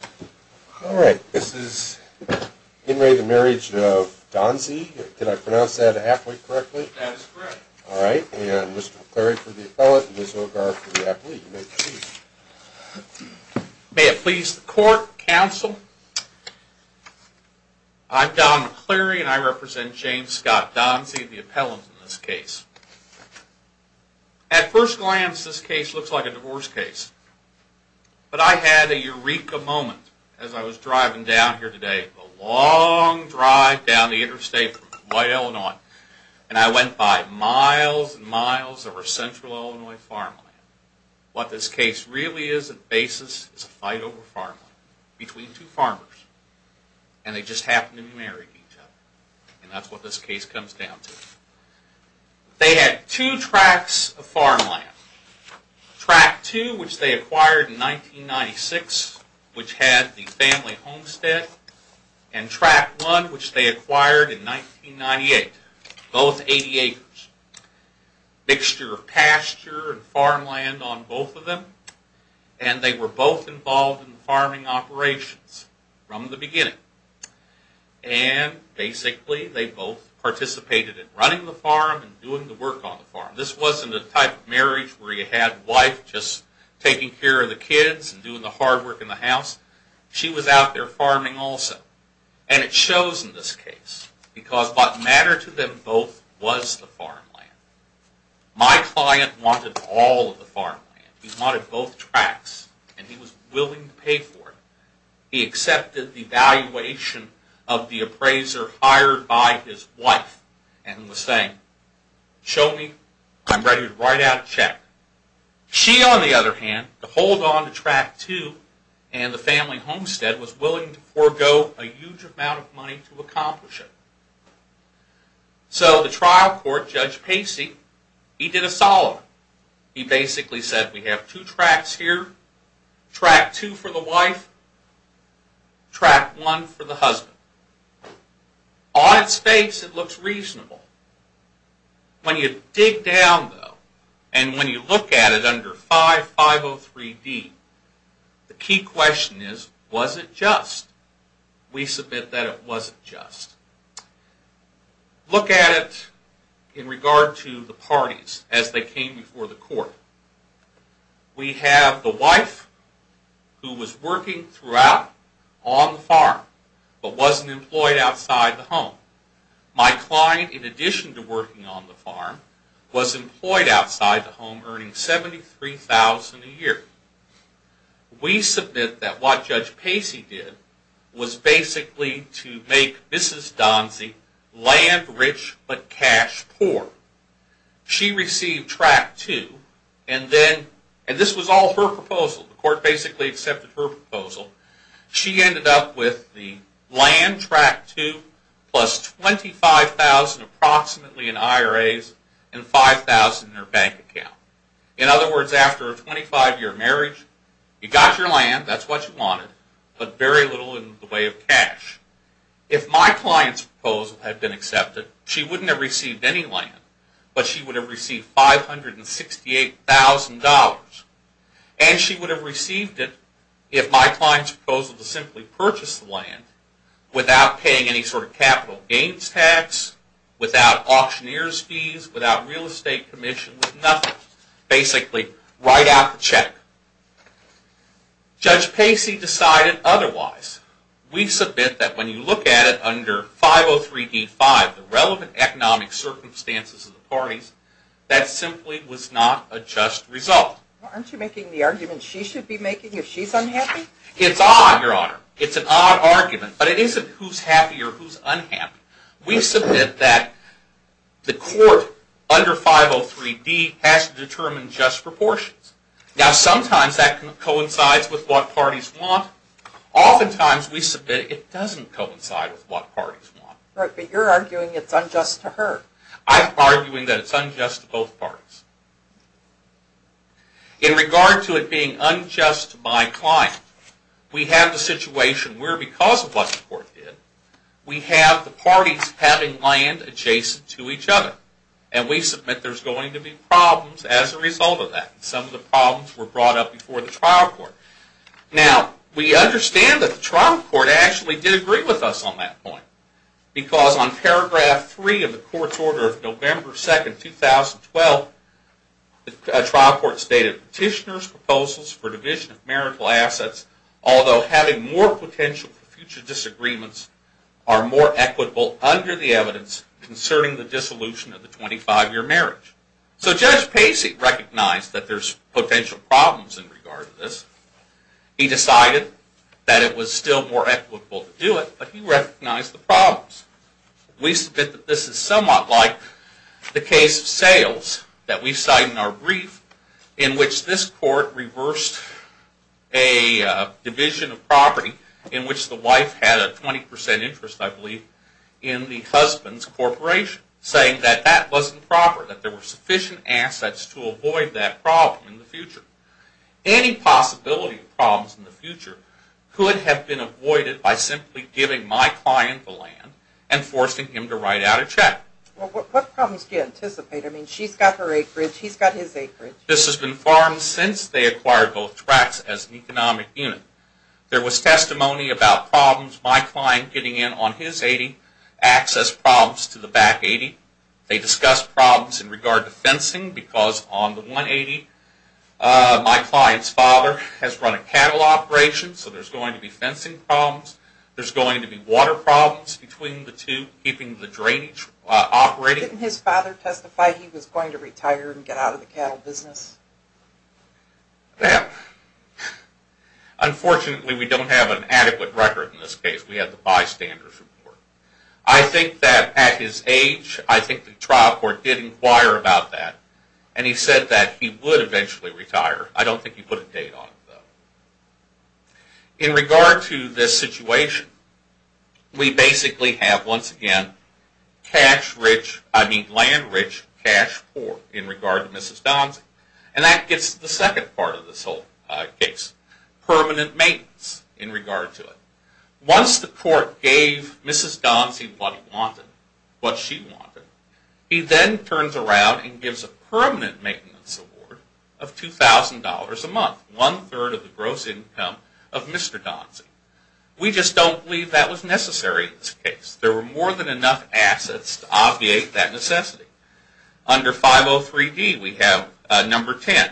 May it please the court, counsel, I'm Don McCleary and I represent James Scott Donzee, the appellant in this case. At first glance this case looks like a divorce case, but I had a eureka moment as I was driving down here today, a long drive down the interstate from White, Illinois, and I went by miles and miles over central Illinois farmland. What this case really is, at basis, is a fight over farmland between two farmers and they just happen to be married each other, and that's what this case comes down to. They had two tracts of farmland, Tract 2, which they acquired in 1996, which had the family homestead, and Tract 1, which they acquired in 1998, both 80 acres, mixture of pasture and farmland on both of them, and they were both involved in farming operations from the beginning. And basically they both participated in running the farm and doing the work on the farm. This wasn't a type of marriage where you had wife just taking care of the kids and doing the hard work in the house. She was out there farming also. And it shows in this case, because what mattered to them both was the farmland. My client wanted all of the farmland, he wanted both tracts, and he was willing to pay for it. He accepted the valuation of the appraiser hired by his wife and was saying, show me, I'm ready to write out a check. She on the other hand, to hold on to Tract 2 and the family homestead, was willing to forego a huge amount of money to accomplish it. So the trial court, Judge Pacey, he did a solid. He basically said, we have two tracts here, Tract 2 for the wife, Tract 1 for the husband. On its face, it looks reasonable. When you dig down though, and when you look at it under 5503D, the key question is, was it just? We submit that it wasn't just. Look at it in regard to the parties as they came before the court. We have the wife, who was working throughout on the farm, but wasn't employed outside the home. My client, in addition to working on the farm, was employed outside the home earning $73,000 a year. We submit that what Judge Pacey did was basically to make Mrs. Donzie land rich, but cash poor. She received Tract 2, and this was all her proposal. The court basically accepted her proposal. She ended up with the land, Tract 2, plus $25,000 approximately in IRAs and $5,000 in her bank account. In other words, after a 25-year marriage, you got your land, that's what you wanted, but very little in the way of cash. If my client's proposal had been accepted, she wouldn't have received any land, but she would have received $568,000. She would have received it if my client's proposal was simply to purchase the land without paying any sort of capital gains tax, without auctioneer's fees, without real estate commission, with nothing. Basically right out of the check. Judge Pacey decided otherwise. We submit that when you look at it under 503d-5, the relevant economic circumstances of the parties, that simply was not a just result. Well, aren't you making the argument she should be making if she's unhappy? It's odd, Your Honor. It's an odd argument, but it isn't who's happy or who's unhappy. We submit that the court under 503d has to determine just proportions. Now, sometimes that coincides with what parties want, oftentimes we submit it doesn't coincide with what parties want. Right, but you're arguing it's unjust to her. I'm arguing that it's unjust to both parties. In regard to it being unjust to my client, we have the situation where because of what the trial court did, we have the parties having land adjacent to each other. And we submit there's going to be problems as a result of that. Some of the problems were brought up before the trial court. Now, we understand that the trial court actually did agree with us on that point. Because on paragraph three of the court's order of November 2nd, 2012, the trial court stated petitioner's proposals for division of marital assets, although having more potential for future disagreements, are more equitable under the evidence concerning the dissolution of the 25-year marriage. So Judge Pacey recognized that there's potential problems in regard to this. He decided that it was still more equitable to do it, but he recognized the problems. We submit that this is somewhat like the case of sales that we cite in our brief, in which this court reversed a division of property in which the wife had a 20% interest, I believe, in the husband's corporation, saying that that wasn't proper, that there were sufficient assets to avoid that problem in the future. Any possibility of problems in the future could have been avoided by simply giving my client the land and forcing him to write out a check. What problems do you anticipate? I mean, she's got her acreage, he's got his acreage. This has been farmed since they acquired both tracts as an economic unit. There was testimony about problems. My client getting in on his 80, accessed problems to the back 80. They discussed problems in regard to fencing, because on the 180, my client's father has run a cattle operation, so there's going to be fencing problems. There's going to be water problems between the two, keeping the drainage operating. Didn't his father testify he was going to retire and get out of the cattle business? Unfortunately, we don't have an adequate record in this case. We have the bystander's report. I think that at his age, I think the trial court did inquire about that, and he said that he would eventually retire. I don't think he put a date on it, though. In regard to this situation, we basically have, once again, land-rich, cash-poor in regard to Mrs. Donzie, and that gets to the second part of this whole case, permanent maintenance in regard to it. Once the court gave Mrs. Donzie what she wanted, he then turns around and gives a permanent maintenance award of $2,000 a month, one-third of the gross income of Mr. Donzie. We just don't believe that was necessary in this case. There were more than enough assets to obviate that necessity. Under 503D, we have number 10,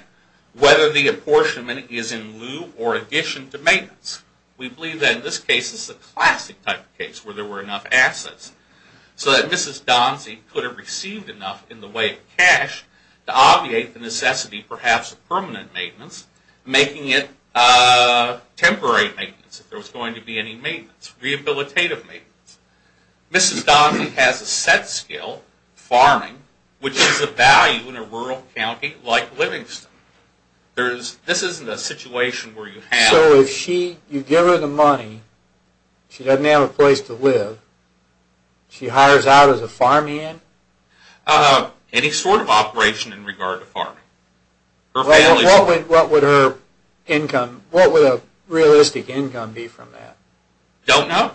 whether the apportionment is in lieu or addition to maintenance. We believe that in this case, this is a classic type of case where there were enough assets so that Mrs. Donzie could have received enough in the way of cash to obviate the necessity perhaps of permanent maintenance, making it temporary maintenance, if there was going to be any maintenance, rehabilitative maintenance. Mrs. Donzie has a set skill, farming, which is of value in a rural county like Livingston. This isn't a situation where you have... She doesn't have a place to live. She hires out as a farmhand? Any sort of operation in regard to farming. What would her income, what would a realistic income be from that? Don't know.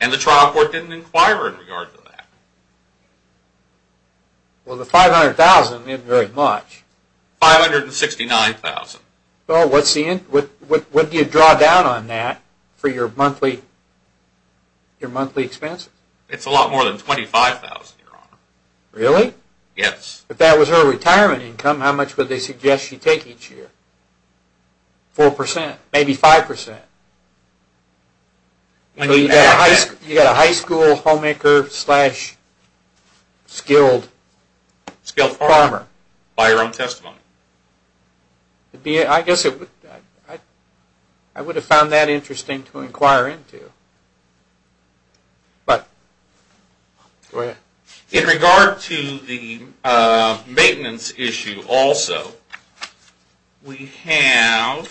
And the trial court didn't inquire in regard to that. Well the $500,000 isn't very much. $569,000. Well what do you draw down on that for your monthly expenses? It's a lot more than $25,000, your honor. Really? Yes. If that was her retirement income, how much would they suggest she take each year? 4%, maybe 5%. You've got a high school homemaker slash skilled farmer. By your own testimony. I guess I would have found that interesting to inquire into, but go ahead. In regard to the maintenance issue also, we have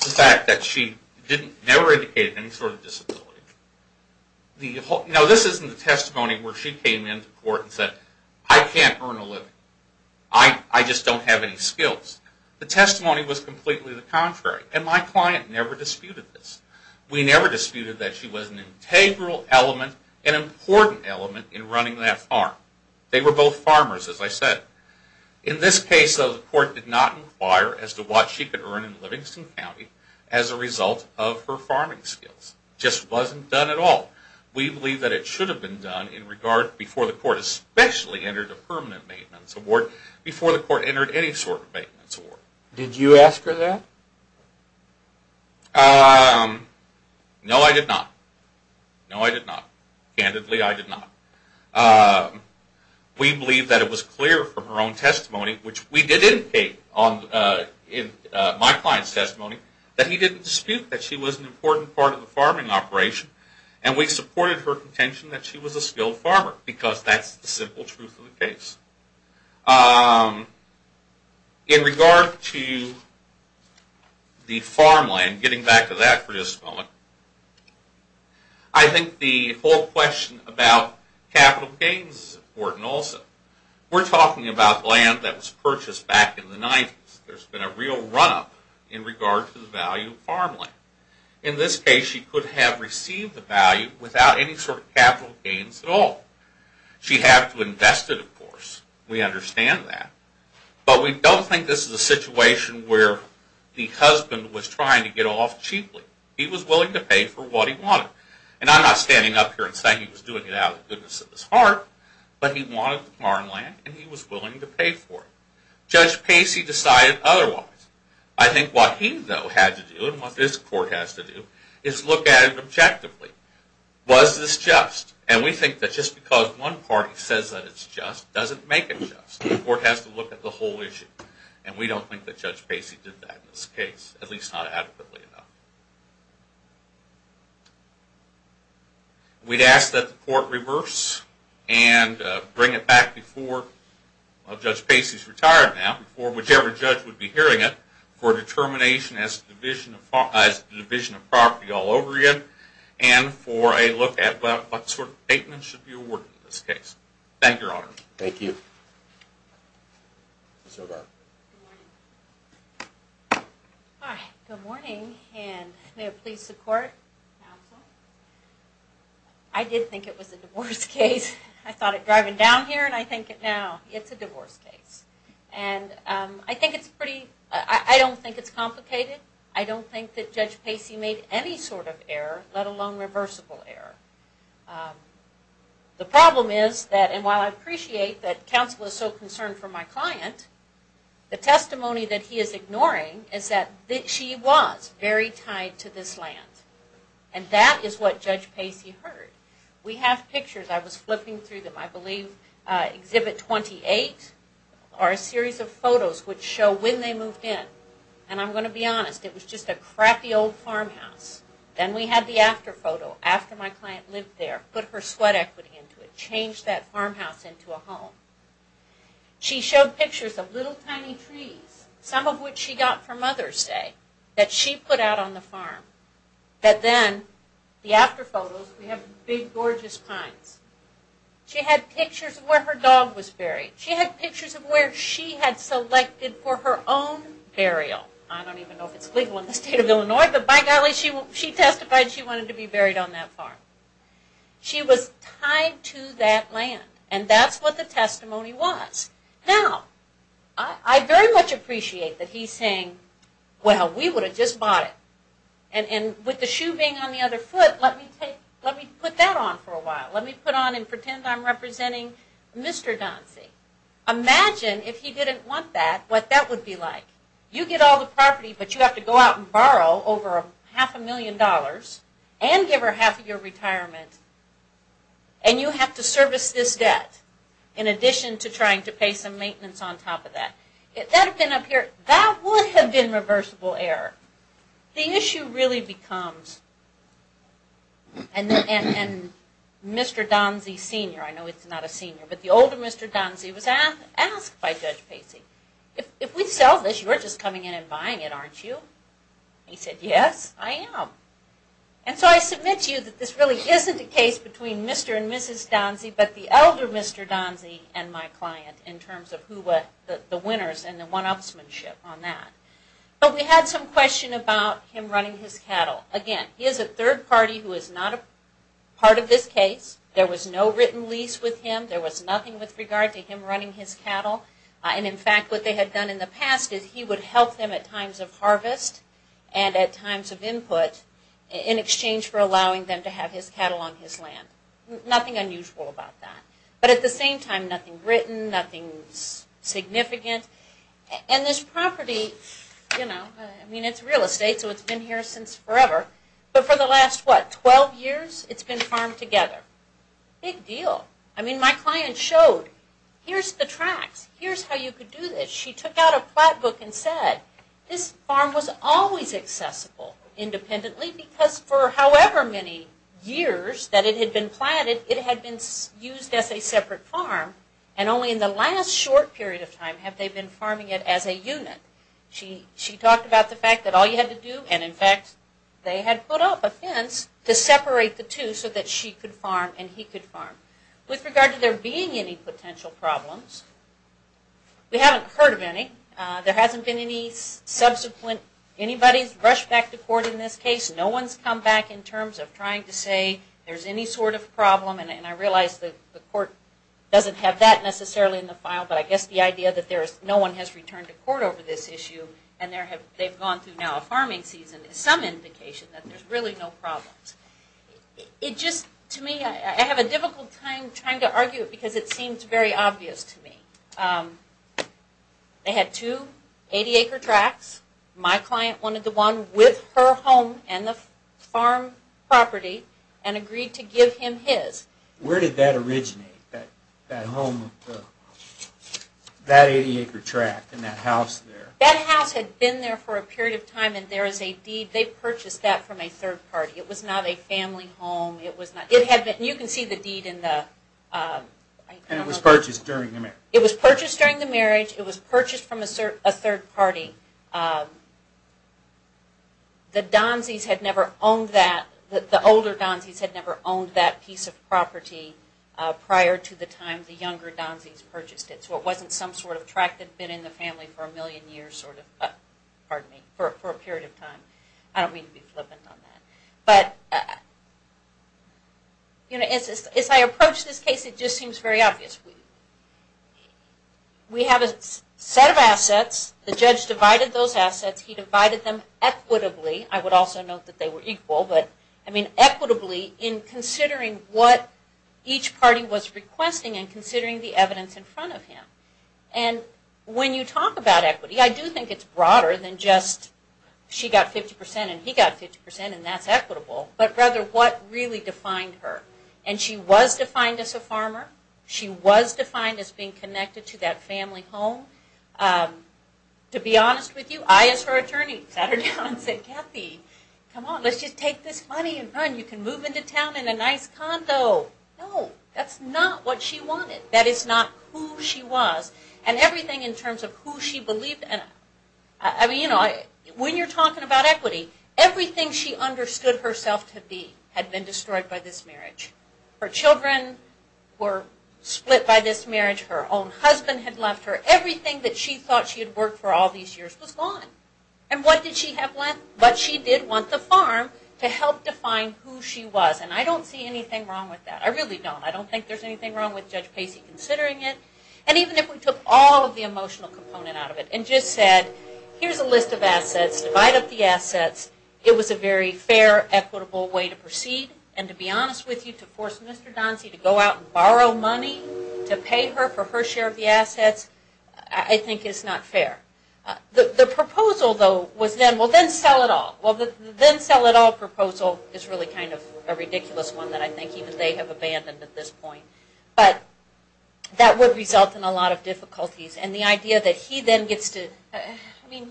the fact that she never indicated any sort of disability. No, this isn't the testimony where she came into court and said, I can't earn a living. I just don't have any skills. The testimony was completely the contrary, and my client never disputed this. We never disputed that she was an integral element, an important element in running that farm. They were both farmers, as I said. In this case, though, the court did not inquire as to what she could earn in Livingston County as a result of her farming skills. It just wasn't done at all. We believe that it should have been done in regard, before the court especially entered a permanent maintenance award, before the court entered any sort of maintenance award. Did you ask her that? No, I did not. No, I did not. Candidly, I did not. We believe that it was clear from her own testimony, which we did indicate in my client's case, that she was an important part of the farming operation, and we supported her contention that she was a skilled farmer, because that's the simple truth of the case. In regard to the farmland, getting back to that for just a moment, I think the whole question about capital gains is important also. We're talking about land that was purchased back in the 90s. There's been a real run-up in regard to the value of farmland. In this case, she could have received the value without any sort of capital gains at all. She'd have to invest it, of course. We understand that. But we don't think this is a situation where the husband was trying to get off cheaply. He was willing to pay for what he wanted. And I'm not standing up here and saying he was doing it out of the goodness of his heart, but he wanted the farmland and he was willing to pay for it. Judge Pacey decided otherwise. I think what he, though, had to do, and what this court has to do, is look at it objectively. Was this just? And we think that just because one party says that it's just doesn't make it just. The court has to look at the whole issue, and we don't think that Judge Pacey did that in this case, at least not adequately enough. We'd ask that the court reverse and bring it back before Judge Pacey's retired now, before whichever judge would be hearing it, for determination as to the division of property all over again, and for a look at what sort of statement should be awarded in this case. Thank you, Your Honor. Thank you. Ms. O'Rourke. Good morning. And may it please the court, counsel. I did think it was a divorce case. I thought it driving down here, and I think it now, it's a divorce case. And I think it's pretty, I don't think it's complicated. I don't think that Judge Pacey made any sort of error, let alone reversible error. The problem is that, and while I appreciate that counsel is so concerned for my client, the testimony that he is ignoring is that she was very tied to this land. And that is what Judge Pacey heard. We have pictures, I was flipping through them, I believe exhibit 28 are a series of photos which show when they moved in. And I'm going to be honest, it was just a crappy old farmhouse. Then we had the after photo, after my client lived there, put her sweat equity into it, changed that farmhouse into a home. She showed pictures of little tiny trees, some of which she got for Mother's Day, that she put out on the farm. But then, the after photos, we have big gorgeous pines. She had pictures of where her dog was buried. She had pictures of where she had selected for her own burial. I don't even know if it's legal in the state of Illinois, but by golly, she testified she wanted to be buried on that farm. She was tied to that land. And that's what the testimony was. Now, I very much appreciate that he's saying, well, we would have just bought it. And with the shoe being on the other foot, let me put that on for a while. Let me put on and pretend I'm representing Mr. Doncey. Imagine if he didn't want that, what that would be like. You get all the property, but you have to go out and borrow over half a million dollars and give her half of your retirement. And you have to service this debt, in addition to trying to pay some maintenance on top of that. If that had been up here, that would have been reversible error. The issue really becomes, and Mr. Doncey, Sr., I know he's not a senior, but the older Mr. Doncey was asked by Judge Pacey, if we sell this, you're just coming in and buying it, aren't you? He said, yes, I am. And so I submit to you that this really isn't a case between Mr. and Mrs. Doncey, but the elder Mr. Doncey and my client, in terms of who were the winners and the one-upsmanship on that. But we had some question about him running his cattle. Again, he is a third party who is not a part of this case. There was no written lease with him. There was nothing with regard to him running his cattle. In fact, what they had done in the past is he would help them at times of harvest and at times of input in exchange for allowing them to have his cattle on his land. Nothing unusual about that. But at the same time, nothing written, nothing significant. And this property, you know, I mean, it's real estate, so it's been here since forever. But for the last, what, 12 years, it's been farmed together. Big deal. I mean, my client showed, here's the tracks, here's how you could do this. She took out a plot book and said, this farm was always accessible independently because for however many years that it had been planted, it had been used as a separate farm. And only in the last short period of time have they been farming it as a unit. She talked about the fact that all you had to do, and in fact, they had put up a fence to separate the two so that she could farm and he could farm. With regard to there being any potential problems, we haven't heard of any. There hasn't been any subsequent, anybody's rushed back to court in this case. No one's come back in terms of trying to say there's any sort of problem. And I realize that the court doesn't have that necessarily in the file, but I guess the idea that no one has returned to court over this issue and they've gone through now problems. It just, to me, I have a difficult time trying to argue it because it seems very obvious to me. They had two 80-acre tracks. My client wanted the one with her home and the farm property and agreed to give him his. Where did that originate, that home, that 80-acre track and that house there? That house had been there for a period of time and there is a deed, they purchased that from a third party. It was not a family home. It was not, it had been, you can see the deed in the, I don't know. And it was purchased during the marriage? It was purchased during the marriage. It was purchased from a third party. The Donsies had never owned that, the older Donsies had never owned that piece of property prior to the time the younger Donsies purchased it. So it wasn't some sort of track that had been in the family for a million years sort of, pardon me, for a period of time. I don't mean to be flippant on that, but as I approach this case it just seems very obvious. We have a set of assets, the judge divided those assets, he divided them equitably. I would also note that they were equal, but I mean equitably in considering what each party was requesting and considering the evidence in front of him. And when you talk about equity, I do think it's broader than just she got 50% and he got 50% and that's equitable, but rather what really defined her. And she was defined as a farmer, she was defined as being connected to that family home. To be honest with you, I as her attorney sat her down and said, Kathy, come on, let's just take this money and run, you can move into town in a nice condo. No, that's not what she wanted. That is not who she was. And everything in terms of who she believed in, when you're talking about equity, everything she understood herself to be had been destroyed by this marriage. Her children were split by this marriage, her own husband had left her, everything that she thought she had worked for all these years was gone. And what did she have left? But she did want the farm to help define who she was. And I don't see anything wrong with that, I really don't. I don't think there's anything wrong with Judge Pacey considering it. And even if we took all of the emotional component out of it and just said, here's a list of assets, divide up the assets, it was a very fair, equitable way to proceed. And to be honest with you, to force Mr. Donzie to go out and borrow money to pay her for her share of the assets, I think is not fair. The proposal though was then, well then sell it all. Well the then sell it all proposal is really kind of a ridiculous one that I think even they have abandoned at this point. But that would result in a lot of difficulties. And the idea that he then gets to, I mean,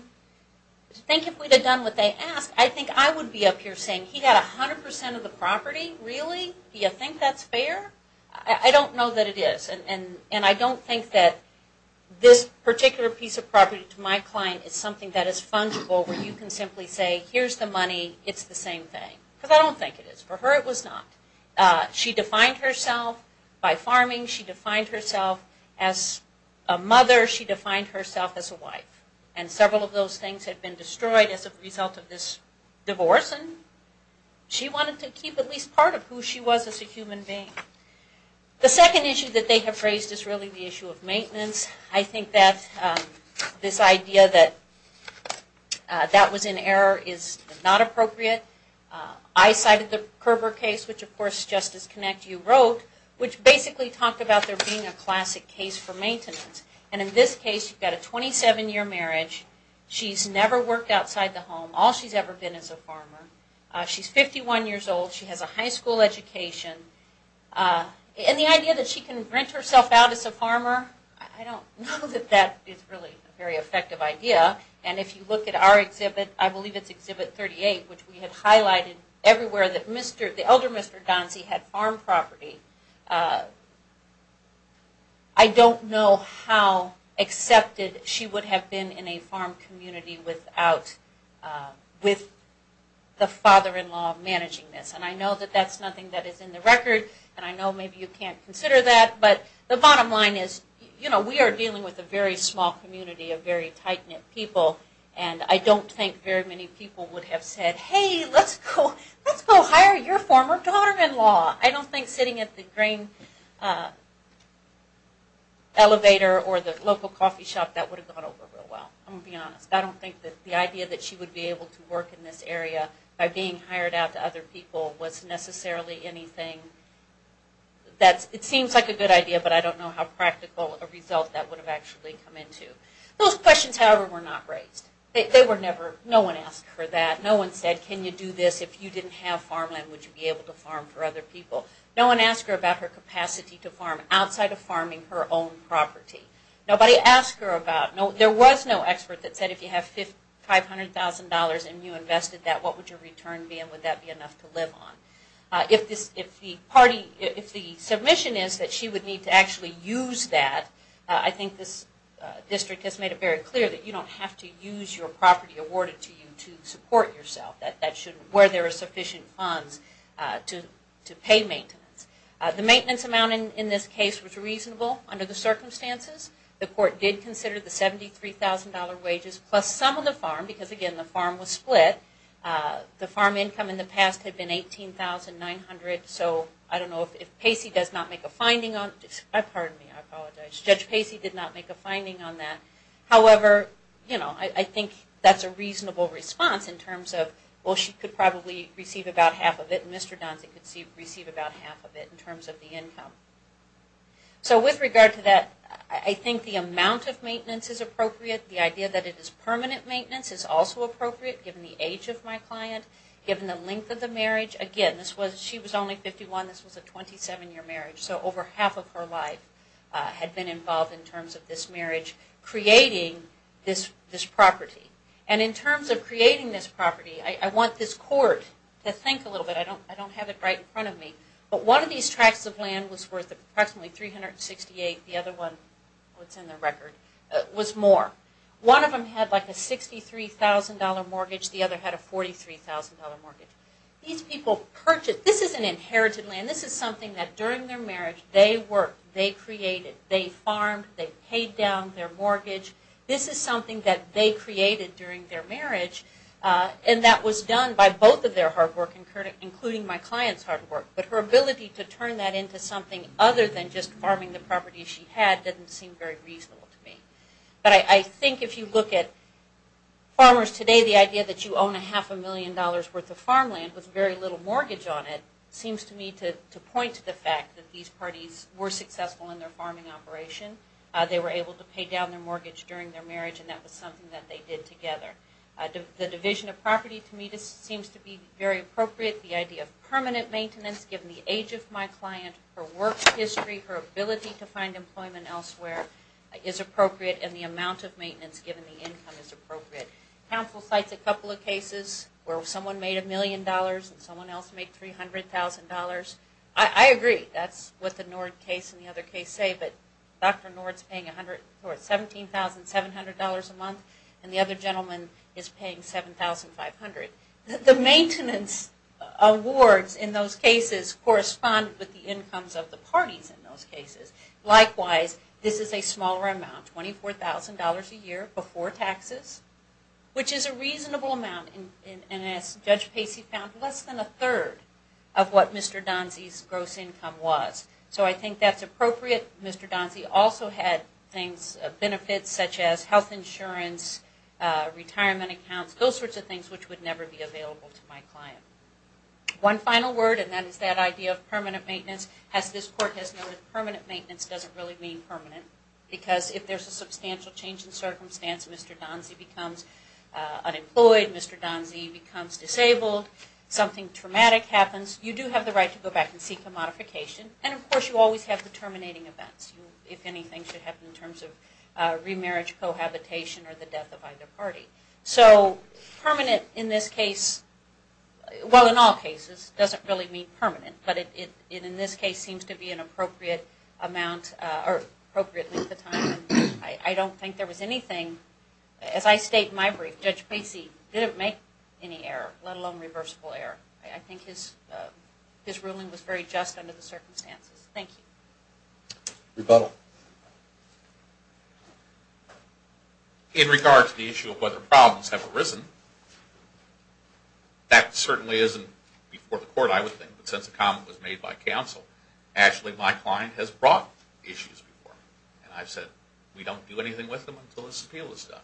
to think if we had done what they asked, I think I would be up here saying, he got 100% of the property, really? Do you think that's fair? I don't know that it is. And I don't think that this particular piece of property to my client is something that is fungible where you can simply say, here's the money, it's the same thing. Because I don't think it is. For her it was not. She defined herself by farming. She defined herself as a mother. She defined herself as a wife. And several of those things had been destroyed as a result of this divorce and she wanted to keep at least part of who she was as a human being. The second issue that they have raised is really the issue of maintenance. I think that this idea that that was in error is not appropriate. I cited the Kerber case, which of course, Justice Connect, you wrote, which basically talked about there being a classic case for maintenance. And in this case, you've got a 27-year marriage, she's never worked outside the home, all she's ever been is a farmer. She's 51 years old, she has a high school education, and the idea that she can rent herself out as a farmer, I don't know that that is really a very effective idea. And if you look at our exhibit, I believe it's exhibit 38, which we have highlighted everywhere that the elder Mr. Gonsi had farm property. I don't know how accepted she would have been in a farm community without, with the father-in-law managing this. And I know that that's nothing that is in the record, and I know maybe you can't consider that, but the bottom line is, you know, we are dealing with a very small community of very tight-knit people, and I don't think very many people would have said, hey, let's go hire your former daughter-in-law. I don't think sitting at the grain elevator or the local coffee shop, that would have gone over real well. I'm going to be honest. I don't think that the idea that she would be able to work in this area by being hired out to other people was necessarily anything that's, it seems like a good idea, but I don't know how practical a result that would have actually come into. Those questions, however, were not raised. They were never, no one asked her that. No one said, can you do this if you didn't have farmland, would you be able to farm for other people? No one asked her about her capacity to farm outside of farming her own property. Nobody asked her about, there was no expert that said if you have $500,000 and you invested that, what would your return be, and would that be enough to live on? If this, if the party, if the submission is that she would need to actually use that, I think this district has made it very clear that you don't have to use your property awarded to you to support yourself, that that should, where there are sufficient funds to pay maintenance. The maintenance amount in this case was reasonable under the circumstances. The court did consider the $73,000 wages plus some of the farm, because again, the farm was split. The farm income in the past had been $18,900, so I don't know if, if Pacey does not make a finding on, pardon me, I apologize, Judge Pacey did not make a finding on that, however, you know, I think that's a reasonable response in terms of, well she could probably receive about half of it and Mr. Donzie could receive about half of it in terms of the income. So with regard to that, I think the amount of maintenance is appropriate, the idea that it is permanent maintenance is also appropriate given the age of my client, given the length of the marriage. Again, this was, she was only 51, this was a 27 year marriage, so over half of her life had been involved in terms of this marriage creating this property. And in terms of creating this property, I want this court to think a little bit, I don't have it right in front of me, but one of these tracts of land was worth approximately $368, the other one, what's in the record, was more. One of them had like a $63,000 mortgage, the other had a $43,000 mortgage. These people purchased, this is an inherited land, this is something that during their marriage they worked, they created, they farmed, they paid down their mortgage, this is something that they created during their marriage and that was done by both of their hard work including my client's hard work. But her ability to turn that into something other than just farming the property she had doesn't seem very reasonable to me. But I think if you look at farmers today, the idea that you own a half a million dollars worth of farmland with very little mortgage on it seems to me to point to the fact that these parties were successful in their farming operation, they were able to pay down their mortgage during their marriage and that was something that they did together. The division of property to me seems to be very appropriate, the idea of permanent maintenance given the age of my client, her work history, her ability to find employment elsewhere is appropriate and the amount of maintenance given the income is appropriate. Council cites a couple of cases where someone made a million dollars and someone else made $300,000. I agree, that's what the Nord case and the other case say, but Dr. Nord is paying $17,700 a month and the other gentleman is paying $7,500. The maintenance awards in those cases correspond with the incomes of the parties in those cases. Likewise, this is a smaller amount, $24,000 a year before taxes, which is a reasonable amount and as Judge Pacey found, less than a third of what Mr. Donzie's gross income was. So I think that's appropriate. Mr. Donzie also had things, benefits such as health insurance, retirement accounts, those sorts of things which would never be available to my client. One final word and that is that idea of permanent maintenance, as this Court has noted, permanent maintenance doesn't really mean permanent because if there's a substantial change in circumstance, Mr. Donzie becomes unemployed, Mr. Donzie becomes disabled, something traumatic happens, you do have the right to go back and seek a modification and of course you always have the terminating events, if anything should happen in terms of remarriage, cohabitation or the death of either party. So permanent in this case, well in all cases, doesn't really mean permanent, but in this case seems to be an appropriate amount or appropriate length of time and I don't think there was anything, as I state in my brief, Judge Pacey didn't make any error, let alone reversible error. I think his ruling was very just under the circumstances. Thank you. Rebuttal. In regards to the issue of whether problems have arisen, that certainly isn't before the counsel. Actually, my client has brought issues before and I've said we don't do anything with them until this appeal is done.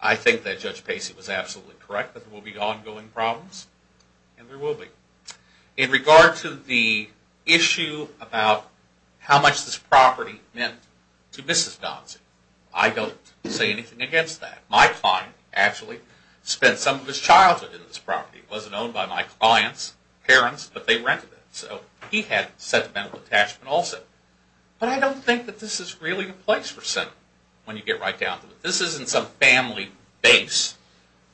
I think that Judge Pacey was absolutely correct that there will be ongoing problems and there will be. In regard to the issue about how much this property meant to Mrs. Donzie, I don't say anything against that. My client actually spent some of his childhood in this property. It wasn't owned by my client's parents, but they rented it. So he had sentimental attachment also. But I don't think that this is really a place for sin when you get right down to it. This isn't some family base.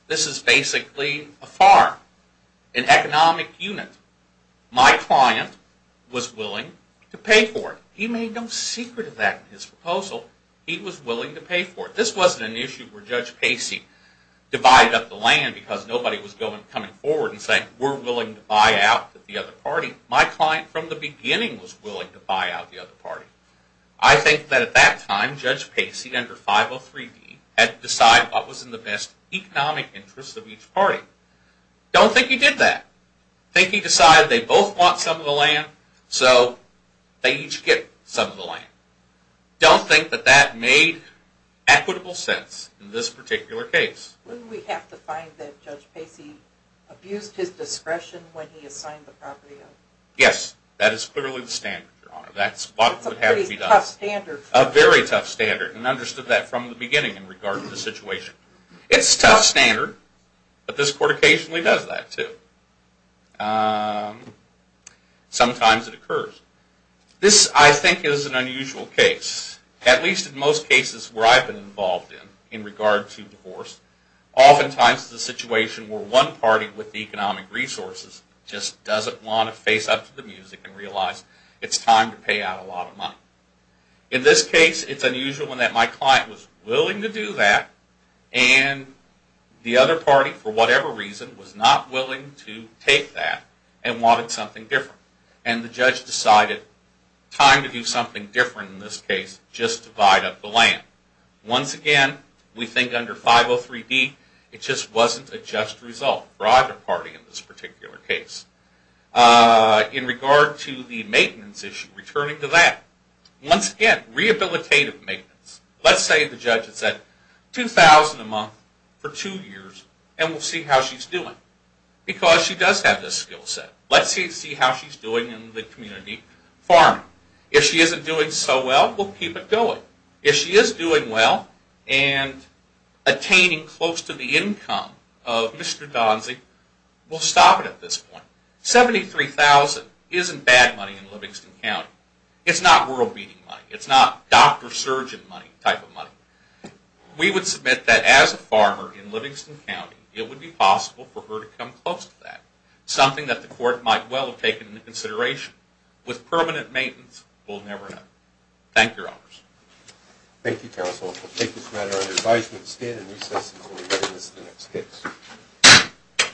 This is basically a farm, an economic unit. My client was willing to pay for it. He made no secret of that in his proposal. He was willing to pay for it. This wasn't an issue where Judge Pacey divided up the land because nobody was coming forward and saying we're willing to buy out the other party. My client from the beginning was willing to buy out the other party. I think that at that time, Judge Pacey under 503D had to decide what was in the best economic interest of each party. Don't think he did that. I think he decided they both want some of the land, so they each get some of the land. Don't think that that made equitable sense in this particular case. Wouldn't we have to find that Judge Pacey abused his discretion when he assigned the property? Yes. That is clearly the standard, Your Honor. That's what would have to be done. It's a pretty tough standard. A very tough standard, and I understood that from the beginning in regard to the situation. It's a tough standard, but this court occasionally does that too. Sometimes it occurs. This, I think, is an unusual case. At least in most cases where I've been involved in, in regard to divorce, oftentimes the situation where one party with the economic resources just doesn't want to face up to the music and realize it's time to pay out a lot of money. In this case, it's unusual in that my client was willing to do that, and the other party, for whatever reason, was not willing to take that and wanted something different. The judge decided, time to do something different in this case, just divide up the land. Once again, we think under 503D, it just wasn't a just result for either party in this particular case. In regard to the maintenance issue, returning to that, once again, rehabilitative maintenance. Let's say the judge had said, $2,000 a month for two years, and we'll see how she's doing. Because she does have this skill set. Let's see how she's doing in the community farming. If she isn't doing so well, we'll keep it going. If she is doing well and attaining close to the income of Mr. Donzie, we'll stop it at this point. $73,000 isn't bad money in Livingston County. It's not world-beating money. It's not doctor-surgeon type of money. We would submit that as a farmer in Livingston County, it would be possible for her to come close to that. Something that the court might well have taken into consideration. With permanent maintenance, we'll never know. Thank you, Your Honors. Thank you, counsel. We'll take this matter under advisement and stand in recess until we get into the next